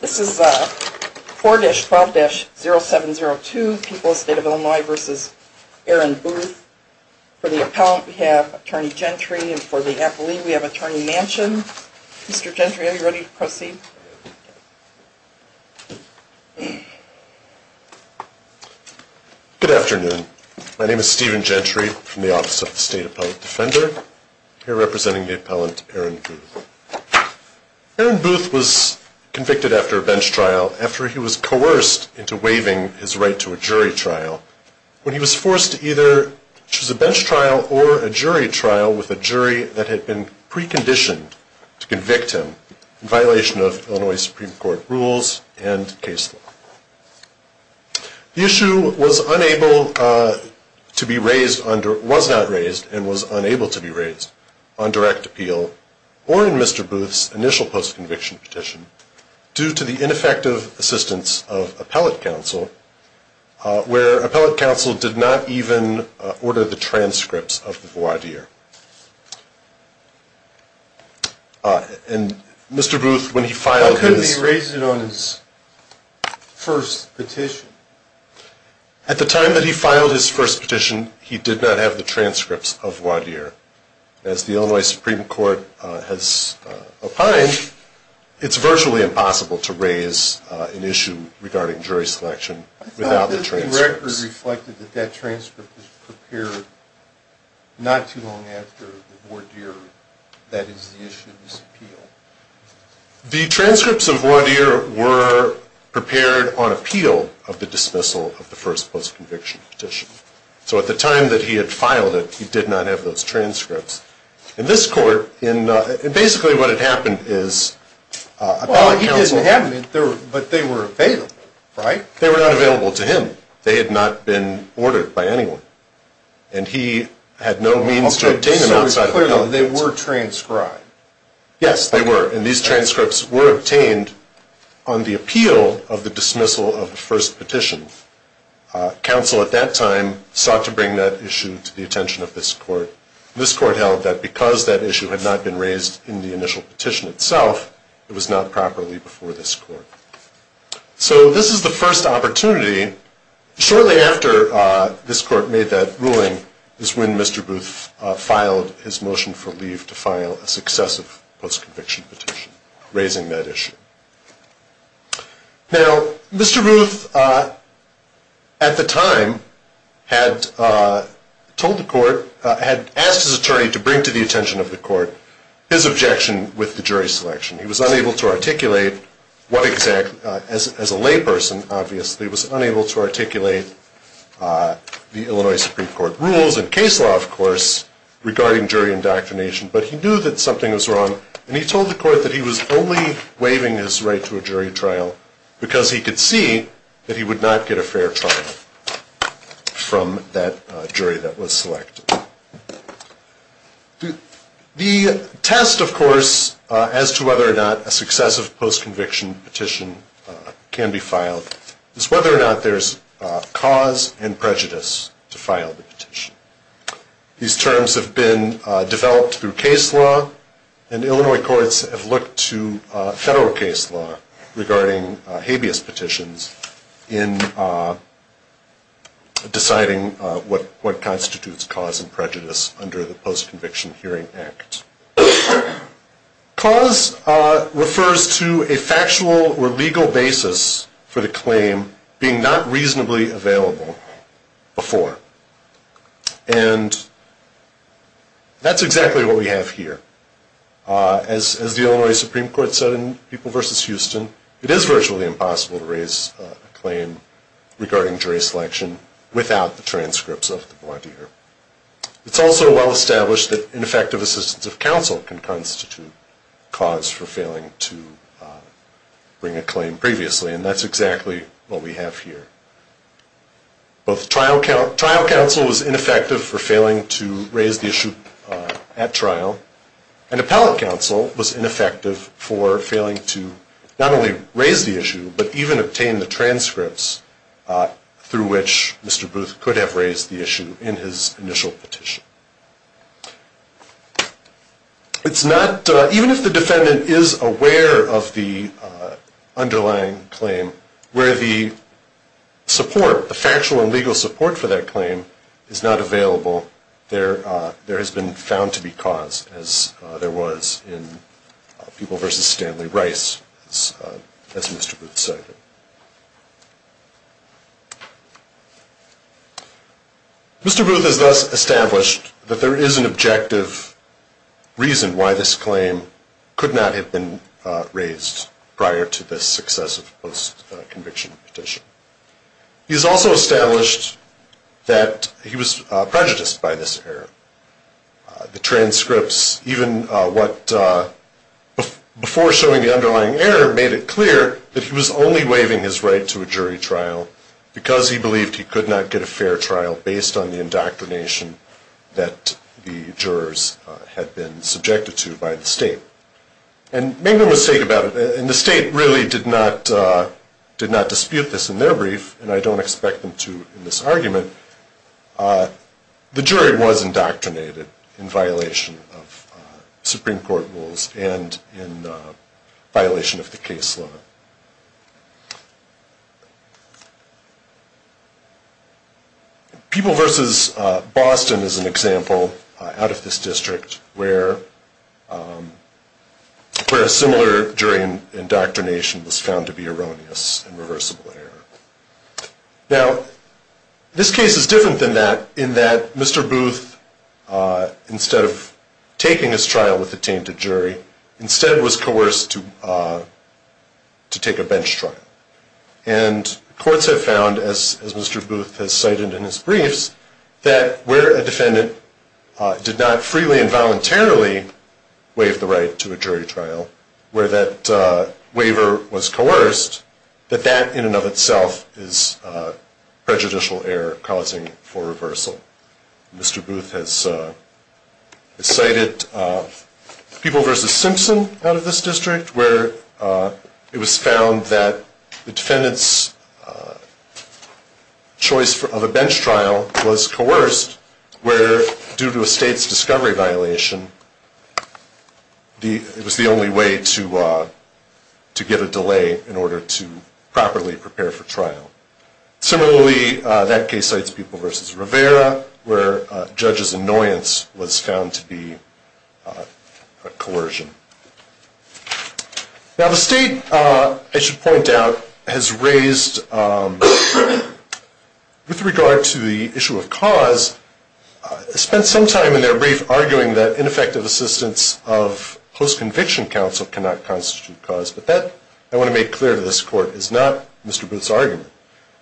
This is 4-12-0702, People of the State of Illinois v. Aaron Booth. For the appellant we have Attorney Gentry and for the appellee we have Attorney Manchin. Mr. Gentry, are you ready to proceed? Good afternoon. My name is Stephen Gentry from the Office of the State Appellant Defender. I'm here representing the appellant Aaron Booth. Aaron Booth was convicted after a bench trial after he was coerced into waiving his right to a jury trial when he was forced to either choose a bench trial or a jury trial with a jury that had been preconditioned to convict him in violation of Illinois Supreme Court rules and case law. The issue was unable to be raised, was not raised and was unable to be raised on direct appeal or in Mr. Booth's initial post-conviction petition due to the ineffective assistance of appellate counsel where appellate counsel did not even order the transcripts of the voir dire. And Mr. Booth, when he filed his... Why couldn't he raise it on his first petition? At the time that he filed his first petition, he did not have the transcripts of voir dire. As the Illinois Supreme Court has opined, it's virtually impossible to raise an issue regarding jury selection without the transcripts. The written record reflected that that transcript was prepared not too long after the voir dire. That is the issue of this appeal. The transcripts of voir dire were prepared on appeal of the dismissal of the first post-conviction petition. So at the time that he had filed it, he did not have those transcripts. In this court, basically what had happened is appellate counsel... Well, he didn't have them, but they were available, right? They were not available to him. They had not been ordered by anyone. And he had no means to obtain them outside of... So it's clear that they were transcribed. Yes, they were. And these transcripts were obtained on the appeal of the dismissal of the first petition. Counsel at that time sought to bring that issue to the attention of this court. This court held that because that issue had not been raised in the initial petition itself, it was not properly before this court. So this is the first opportunity. Shortly after this court made that ruling is when Mr. Booth filed his motion for leave to file a successive post-conviction petition, raising that issue. Now, Mr. Booth at the time had told the court... had asked his attorney to bring to the attention of the court his objection with the jury selection. He was unable to articulate what exactly... as a layperson, obviously, was unable to articulate the Illinois Supreme Court rules and case law, of course, regarding jury indoctrination. But he knew that something was wrong, and he told the court that he was only waiving his right to a jury trial because he could see that he would not get a fair trial from that jury that was selected. The test, of course, as to whether or not a successive post-conviction petition can be filed is whether or not there is cause and prejudice to file the petition. These terms have been developed through case law, and Illinois courts have looked to federal case law regarding habeas petitions in deciding what constitutes cause and prejudice under the Post-Conviction Hearing Act. Cause refers to a factual or legal basis for the claim being not reasonably available before. And that's exactly what we have here. As the Illinois Supreme Court said in People v. Houston, it is virtually impossible to raise a claim regarding jury selection without the transcripts of the volunteer. It's also well established that ineffective assistance of counsel can constitute cause for failing to bring a claim previously, and that's exactly what we have here. Both trial counsel was ineffective for failing to raise the issue at trial, and appellate counsel was ineffective for failing to not only raise the issue, but even obtain the transcripts through which Mr. Booth could have raised the issue in his initial petition. It's not, even if the defendant is aware of the underlying claim, where the support, the factual and legal support for that claim is not available, there has been found to be cause, as there was in People v. Stanley Rice, as Mr. Booth cited. Mr. Booth has thus established that there is an objective reason why this claim could not have been raised prior to the success of the post-conviction petition. He has also established that he was prejudiced by this error. The transcripts, even what, before showing the underlying error, made it clear that he was only waiving his right to a jury trial because he believed he could not get a fair trial based on the indoctrination that the jurors had been subjected to by the state. And make no mistake about it, and the state really did not dispute this in their brief, and I don't expect them to in this argument, the jury was indoctrinated in violation of Supreme Court rules and in violation of the case law. People v. Boston is an example, out of this district, where a similar jury indoctrination was found to be erroneous and reversible error. Now, this case is different than that in that Mr. Booth, instead of taking his trial with a tainted jury, instead was coerced to take a bench trial. And courts have found, as Mr. Booth has cited in his briefs, that where a defendant did not freely and voluntarily waive the right to a jury trial, where that waiver was coerced, that that in and of itself is prejudicial error causing for reversal. Mr. Booth has cited People v. Simpson out of this district, where it was found that the defendant's choice of a bench trial was coerced, where due to a state's discovery violation, it was the only way to get a delay in order to properly prepare for trial. Similarly, that case cites People v. Rivera, where a judge's annoyance was found to be a coercion. Now, the state, I should point out, has raised, with regard to the issue of cause, spent some time in their brief arguing that ineffective assistance of post-conviction counsel cannot constitute cause, but that, I want to make clear to this court, is not Mr. Booth's argument.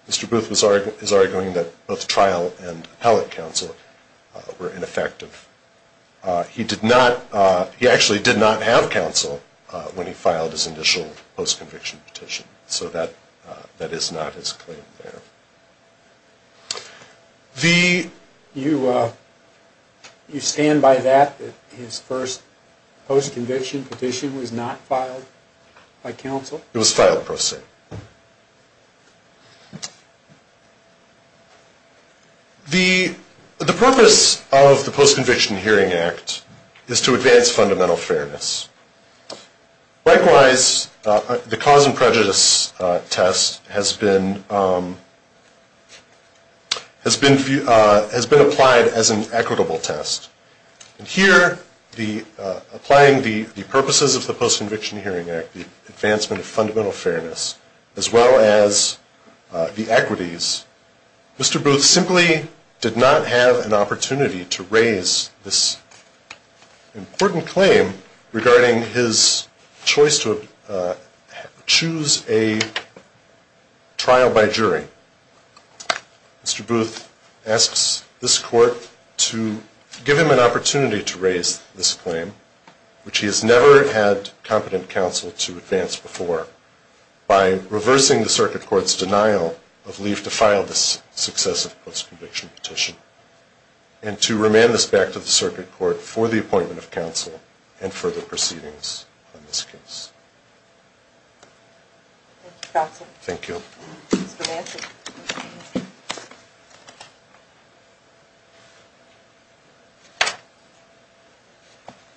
Mr. Booth is arguing that both trial and appellate counsel were ineffective. He actually did not have counsel when he filed his initial post-conviction petition, so that is not his claim there. You stand by that, that his first post-conviction petition was not filed by counsel? It was filed, Professor. The purpose of the Post-Conviction Hearing Act is to advance fundamental fairness. Likewise, the cause and prejudice test has been applied as an equitable test. Here, applying the purposes of the Post-Conviction Hearing Act, the advancement of fundamental fairness, as well as the equities, Mr. Booth simply did not have an opportunity to raise this important claim regarding his choice to choose a trial by jury. Mr. Booth asks this court to give him an opportunity to raise this claim, which he has never had competent counsel to advance before, by reversing the circuit court's denial of leave to file this successive post-conviction petition, and to remand this back to the circuit court for the appointment of counsel and further proceedings on this case. Thank you, Counsel. Mr. Manson.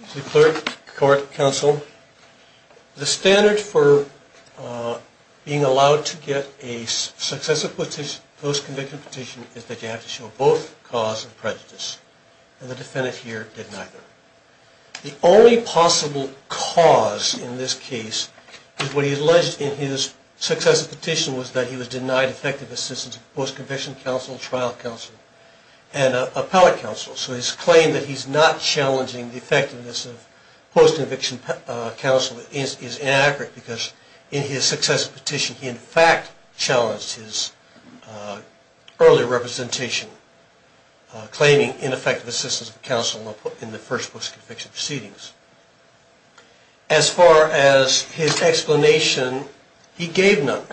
Mr. Clerk, Court, Counsel, the standard for being allowed to get a successive post-conviction petition is that you have to show both cause and prejudice, and the defendant here did neither. The only possible cause in this case is what he alleged in his successive petition was that he was denied effective assistance of post-conviction counsel, trial counsel, and appellate counsel. So his claim that he's not challenging the effectiveness of post-conviction counsel is inaccurate because in his successive petition, he in fact challenged his earlier representation, claiming ineffective assistance of counsel in the first post-conviction proceedings. As far as his explanation, he gave none.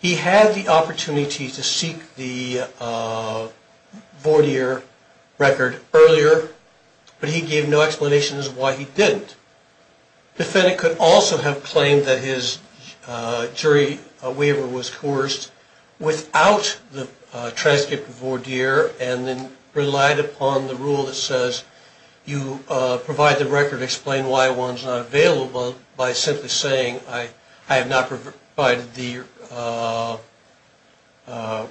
He had the opportunity to seek the voir dire record earlier, but he gave no explanation as to why he didn't. The defendant could also have claimed that his jury waiver was coerced without the transcript of voir dire and then relied upon the rule that says you provide the record to explain why one's not available by simply saying, I have not provided the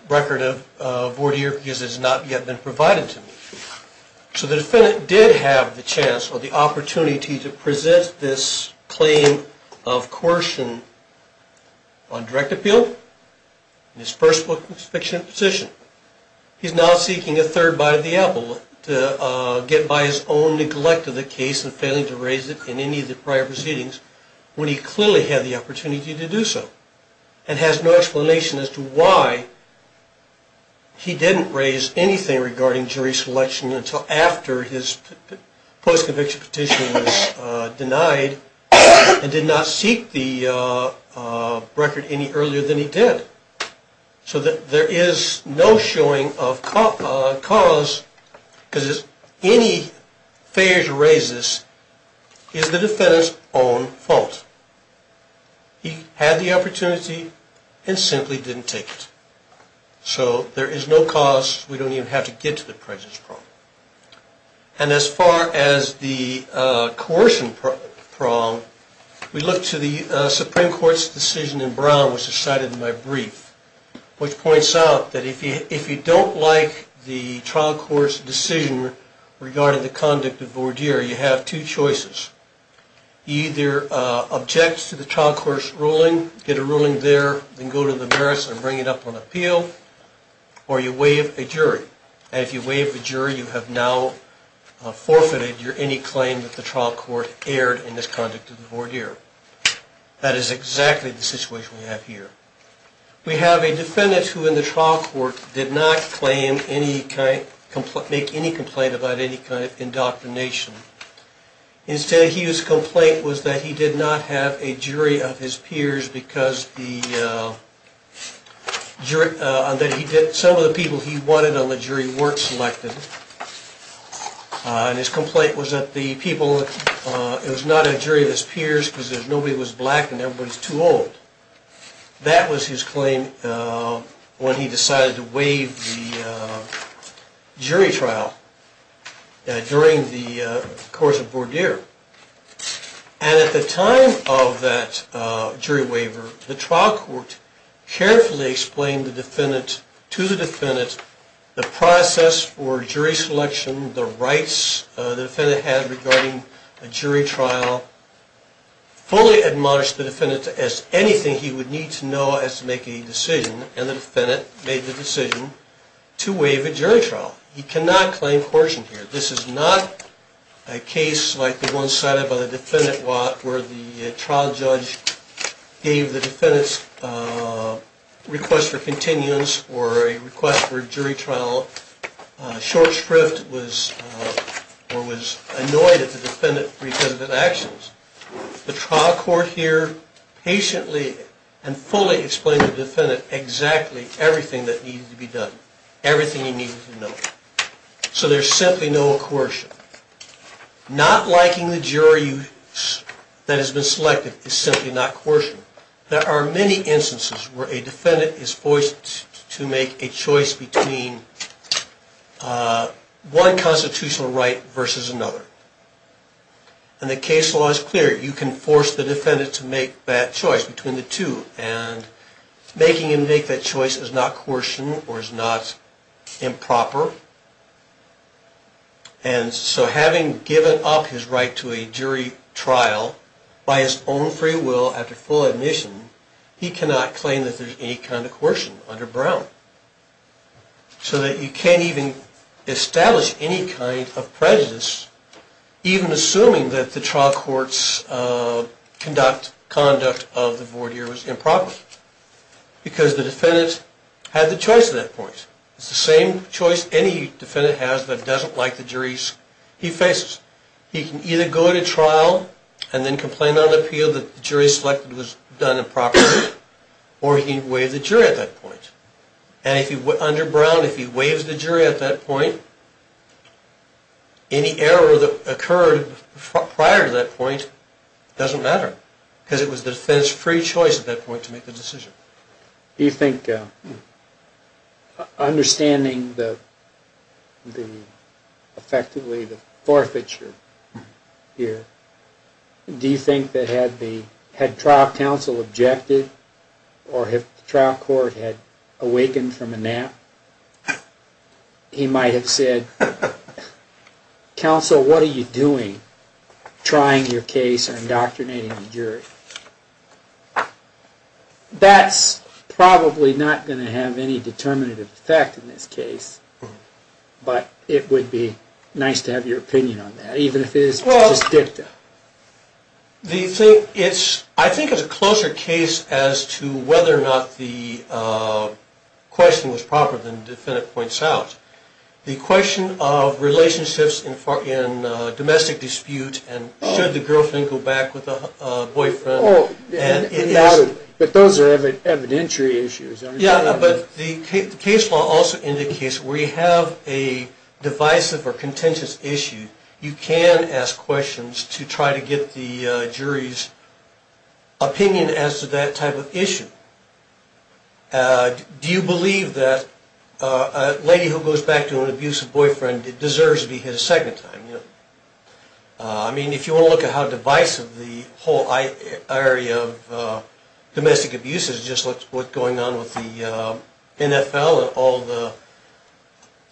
record of voir dire because it has not yet been provided to me. So the defendant did have the chance or the opportunity to present this claim of coercion on direct appeal, in his first post-conviction petition. He's now seeking a third bite of the apple to get by his own neglect of the case and failing to raise it in any of the prior proceedings when he clearly had the opportunity to do so and has no explanation as to why he didn't raise anything regarding jury selection until after his post-conviction petition was denied and did not seek the record any earlier than he did. So there is no showing of cause because any failure to raise this is the defendant's own fault. He had the opportunity and simply didn't take it. So there is no cause. We don't even have to get to the presence prong. And as far as the coercion prong, we look to the Supreme Court's decision in Brown, which is cited in my brief, which points out that if you don't like the trial court's decision regarding the conduct of voir dire, you have two choices. Either object to the trial court's ruling, get a ruling there, then go to the merits and bring it up on appeal, or you waive a jury. And if you waive a jury, you have now forfeited any claim that the trial court aired in this conduct of the voir dire. That is exactly the situation we have here. We have a defendant who in the trial court did not make any complaint about any kind of indoctrination. Instead, his complaint was that he did not have a jury of his peers because some of the people he wanted on the jury weren't selected. And his complaint was that it was not a jury of his peers because nobody was black and everybody was too old. That was his claim when he decided to waive the jury trial during the course of voir dire. And at the time of that jury waiver, the trial court carefully explained to the defendant the process for jury selection, the rights the defendant had regarding a jury trial, fully admonished the defendant as anything he would need to know as to make a decision, and the defendant made the decision to waive a jury trial. He cannot claim coercion here. This is not a case like the one cited by the defendant where the trial judge gave the defendant's request for continuance or a request for a jury trial, short shrift, or was annoyed at the defendant for his actions. The trial court here patiently and fully explained to the defendant exactly everything that needed to be done, everything he needed to know. So there's simply no coercion. Not liking the jury that has been selected is simply not coercion. There are many instances where a defendant is forced to make a choice between one constitutional right versus another. And the case law is clear. You can force the defendant to make that choice between the two, and making him make that choice is not coercion or is not improper. And so having given up his right to a jury trial by his own free will after full admission, he cannot claim that there's any kind of coercion under Brown. So that you can't even establish any kind of prejudice, even assuming that the trial court's conduct of the board here was improper. Because the defendant had the choice at that point. It's the same choice any defendant has that doesn't like the juries he faces. He can either go to trial and then complain on appeal that the jury selected was done improperly, or he can waive the jury at that point. And under Brown, if he waives the jury at that point, any error that occurred prior to that point doesn't matter. Because it was the defendant's free choice at that point to make the decision. Do you think, understanding effectively the forfeiture here, do you think that had trial counsel objected, or if the trial court had awakened from a nap, he might have said, counsel, what are you doing trying your case or indoctrinating the jury? That's probably not going to have any determinative effect in this case, but it would be nice to have your opinion on that, even if it is just dicta. I think it's a closer case as to whether or not the question was proper than the defendant points out. The question of relationships in domestic dispute and should the girlfriend go back with the boyfriend. But those are evidentiary issues. Yeah, but the case law also indicates where you have a divisive or contentious issue, you can ask questions to try to get the jury's opinion as to that type of issue. Do you believe that a lady who goes back to an abusive boyfriend deserves to be hit a second time? I mean, if you want to look at how divisive the whole area of domestic abuse is, it's just what's going on with the NFL and all the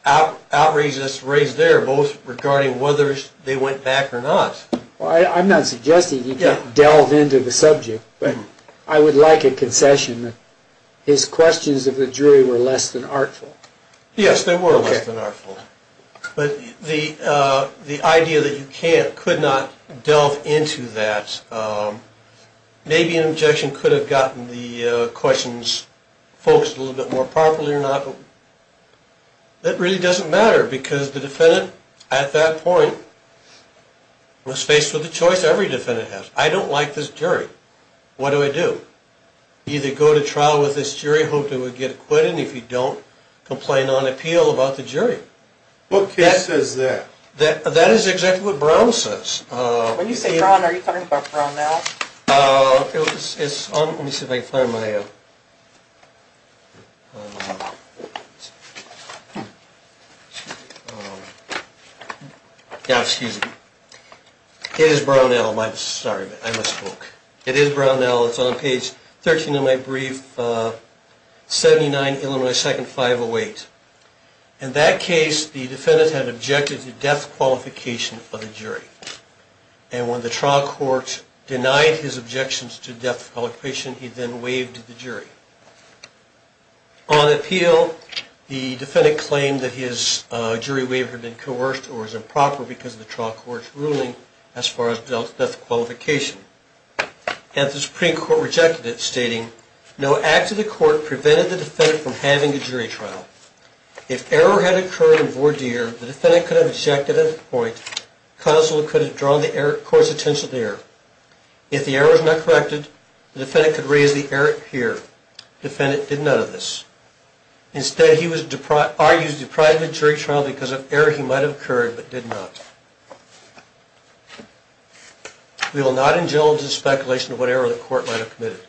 outrage that's raised there, both regarding whether they went back or not. I'm not suggesting you can't delve into the subject, but I would like a concession that his questions of the jury were less than artful. Yes, they were less than artful. But the idea that you could not delve into that, maybe an objection could have gotten the questions focused a little bit more properly or not, but that really doesn't matter because the defendant at that point was faced with a choice every defendant has. I don't like this jury. What do I do? Either go to trial with this jury, hope they would get acquitted, and if you don't, complain on appeal about the jury. What case says that? That is exactly what Brown says. When you say Brown, are you talking about Brownell? Let me see if I can find my... Yeah, excuse me. It is Brownell. Sorry, I misspoke. It is Brownell. It's on page 13 of my brief, 79, Illinois 2nd, 508. In that case, the defendant had objected to death qualification of the jury, and when the trial court denied his objections to death qualification, he then waived the jury. On appeal, the defendant claimed that his jury waiver had been coerced or was improper because of the trial court's ruling as far as death qualification, and the Supreme Court rejected it, stating, No act of the court prevented the defendant from having a jury trial. If error had occurred in voir dire, the defendant could have objected at that point. Counsel could have drawn the court's attention to error. If the error was not corrected, the defendant could raise the error here. The defendant did none of this. Instead, he was argued deprived of a jury trial because of error he might have occurred but did not. We will not indulge in speculation of what error the court might have committed.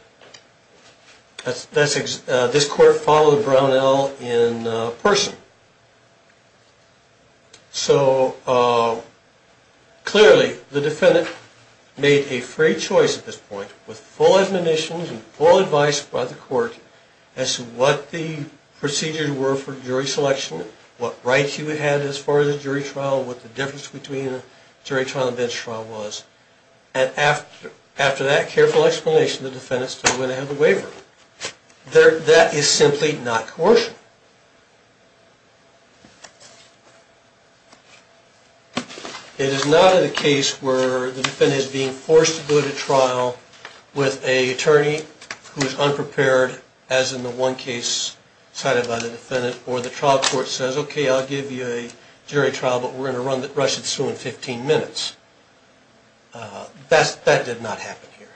This court followed Brownell in person. So, clearly, the defendant made a free choice at this point with full admonition and full advice by the court as to what the procedures were for jury selection, what rights he would have as far as a jury trial, what the difference between a jury trial and a bench trial was. And after that careful explanation, the defendant still went ahead with the waiver. That is simply not coercion. It is not a case where the defendant is being forced to go to trial with an attorney who is unprepared, or the trial court says, okay, I'll give you a jury trial, but we're going to rush it through in 15 minutes. That did not happen here.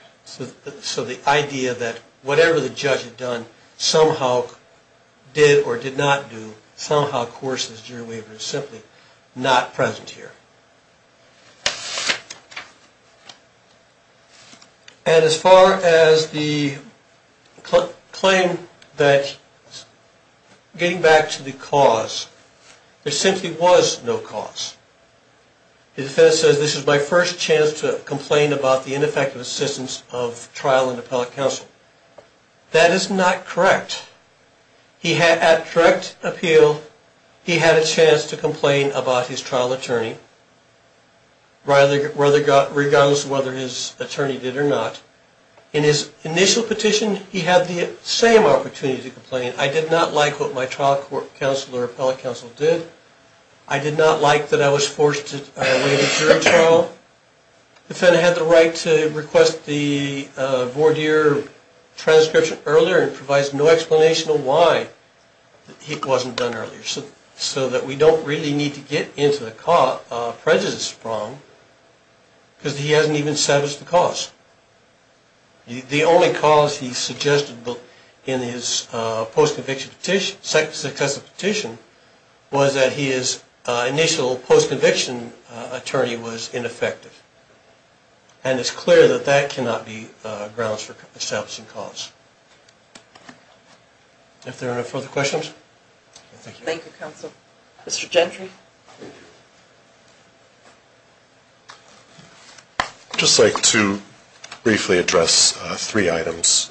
So the idea that whatever the judge had done, somehow did or did not do, somehow coerced this jury waiver is simply not present here. And as far as the claim that getting back to the cause, there simply was no cause. The defendant says, this is my first chance to complain about the ineffective assistance of trial and appellate counsel. That is not correct. At direct appeal, he had a chance to complain about his trial attorney, regardless of whether his attorney did or not. In his initial petition, he had the same opportunity to complain. I did not like what my trial counsel or appellate counsel did. I did not like that I was forced to wait a jury trial. The defendant had the right to request the voir dire transcription earlier and provides no explanation of why it wasn't done earlier, so that we don't really need to get into the prejudice problem because he hasn't even established the cause. The only cause he suggested in his post-conviction petition, was that his initial post-conviction attorney was ineffective. And it's clear that that cannot be grounds for establishing cause. If there are no further questions. Thank you, counsel. Mr. Gentry. I'd just like to briefly address three items.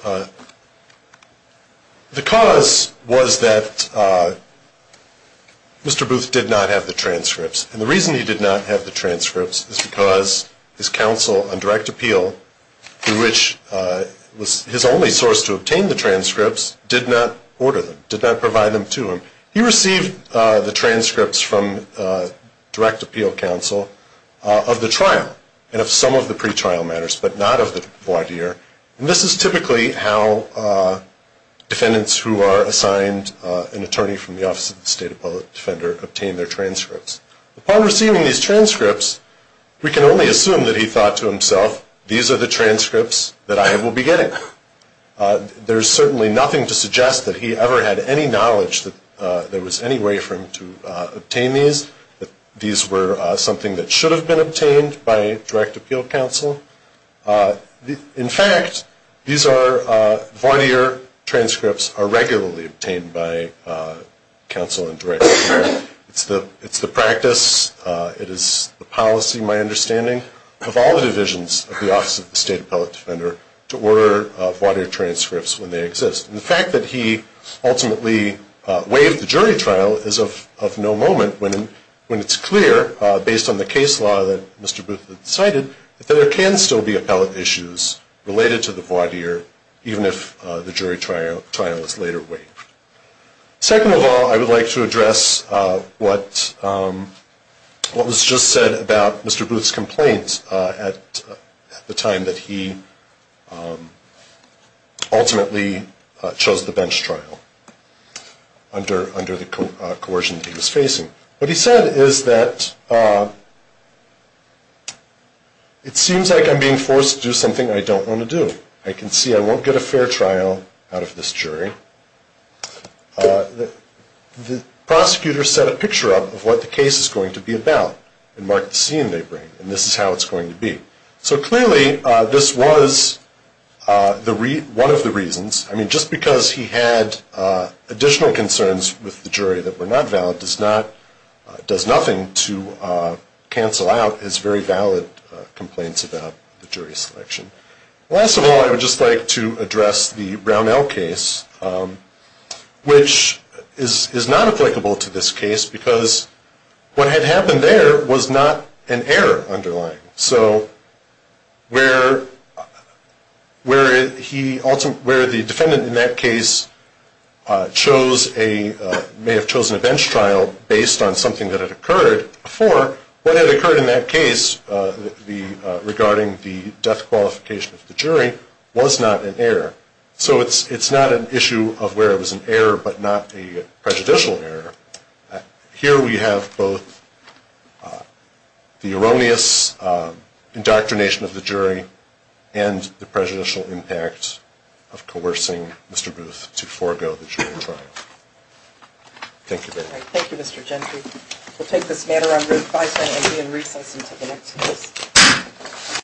The cause was that Mr. Booth did not have the transcripts. And the reason he did not have the transcripts is because his counsel on direct appeal, through which was his only source to obtain the transcripts, did not order them, did not provide them to him. He received the transcripts from direct appeal counsel of the trial, and of some of the pretrial matters, but not of the voir dire. And this is typically how defendants who are assigned an attorney from the Office of the State Appellate Defender obtain their transcripts. Upon receiving these transcripts, we can only assume that he thought to himself, these are the transcripts that I will be getting. There's certainly nothing to suggest that he ever had any knowledge that there was any way for him to obtain these, that these were something that should have been obtained by direct appeal counsel. In fact, these voir dire transcripts are regularly obtained by counsel on direct appeal. It's the practice, it is the policy, my understanding, of all the divisions of the Office of the State Appellate Defender to order voir dire transcripts when they exist. And the fact that he ultimately waived the jury trial is of no moment when it's clear, based on the case law that Mr. Booth had cited, that there can still be appellate issues related to the voir dire, even if the jury trial is later waived. Second of all, I would like to address what was just said about Mr. Booth's complaint at the time that he ultimately chose the bench trial under the coercion that he was facing. What he said is that it seems like I'm being forced to do something I don't want to do. I can see I won't get a fair trial out of this jury. The prosecutor set a picture up of what the case is going to be about and mark the scene they bring, and this is how it's going to be. So clearly this was one of the reasons. I mean, just because he had additional concerns with the jury that were not valid does nothing to cancel out his very valid complaints about the jury selection. Last of all, I would just like to address the Brownell case, which is not applicable to this case because what had happened there was not an error underlying. So where the defendant in that case may have chosen a bench trial based on something that had occurred before, what had occurred in that case regarding the death qualification of the jury was not an error. So it's not an issue of where it was an error but not a prejudicial error. Here we have both the erroneous indoctrination of the jury and the prejudicial impact of coercing Mr. Booth to forego the jury trial. Thank you very much. Thank you, Mr. Gentry. We'll take this matter under advisory and be in recess until the next case.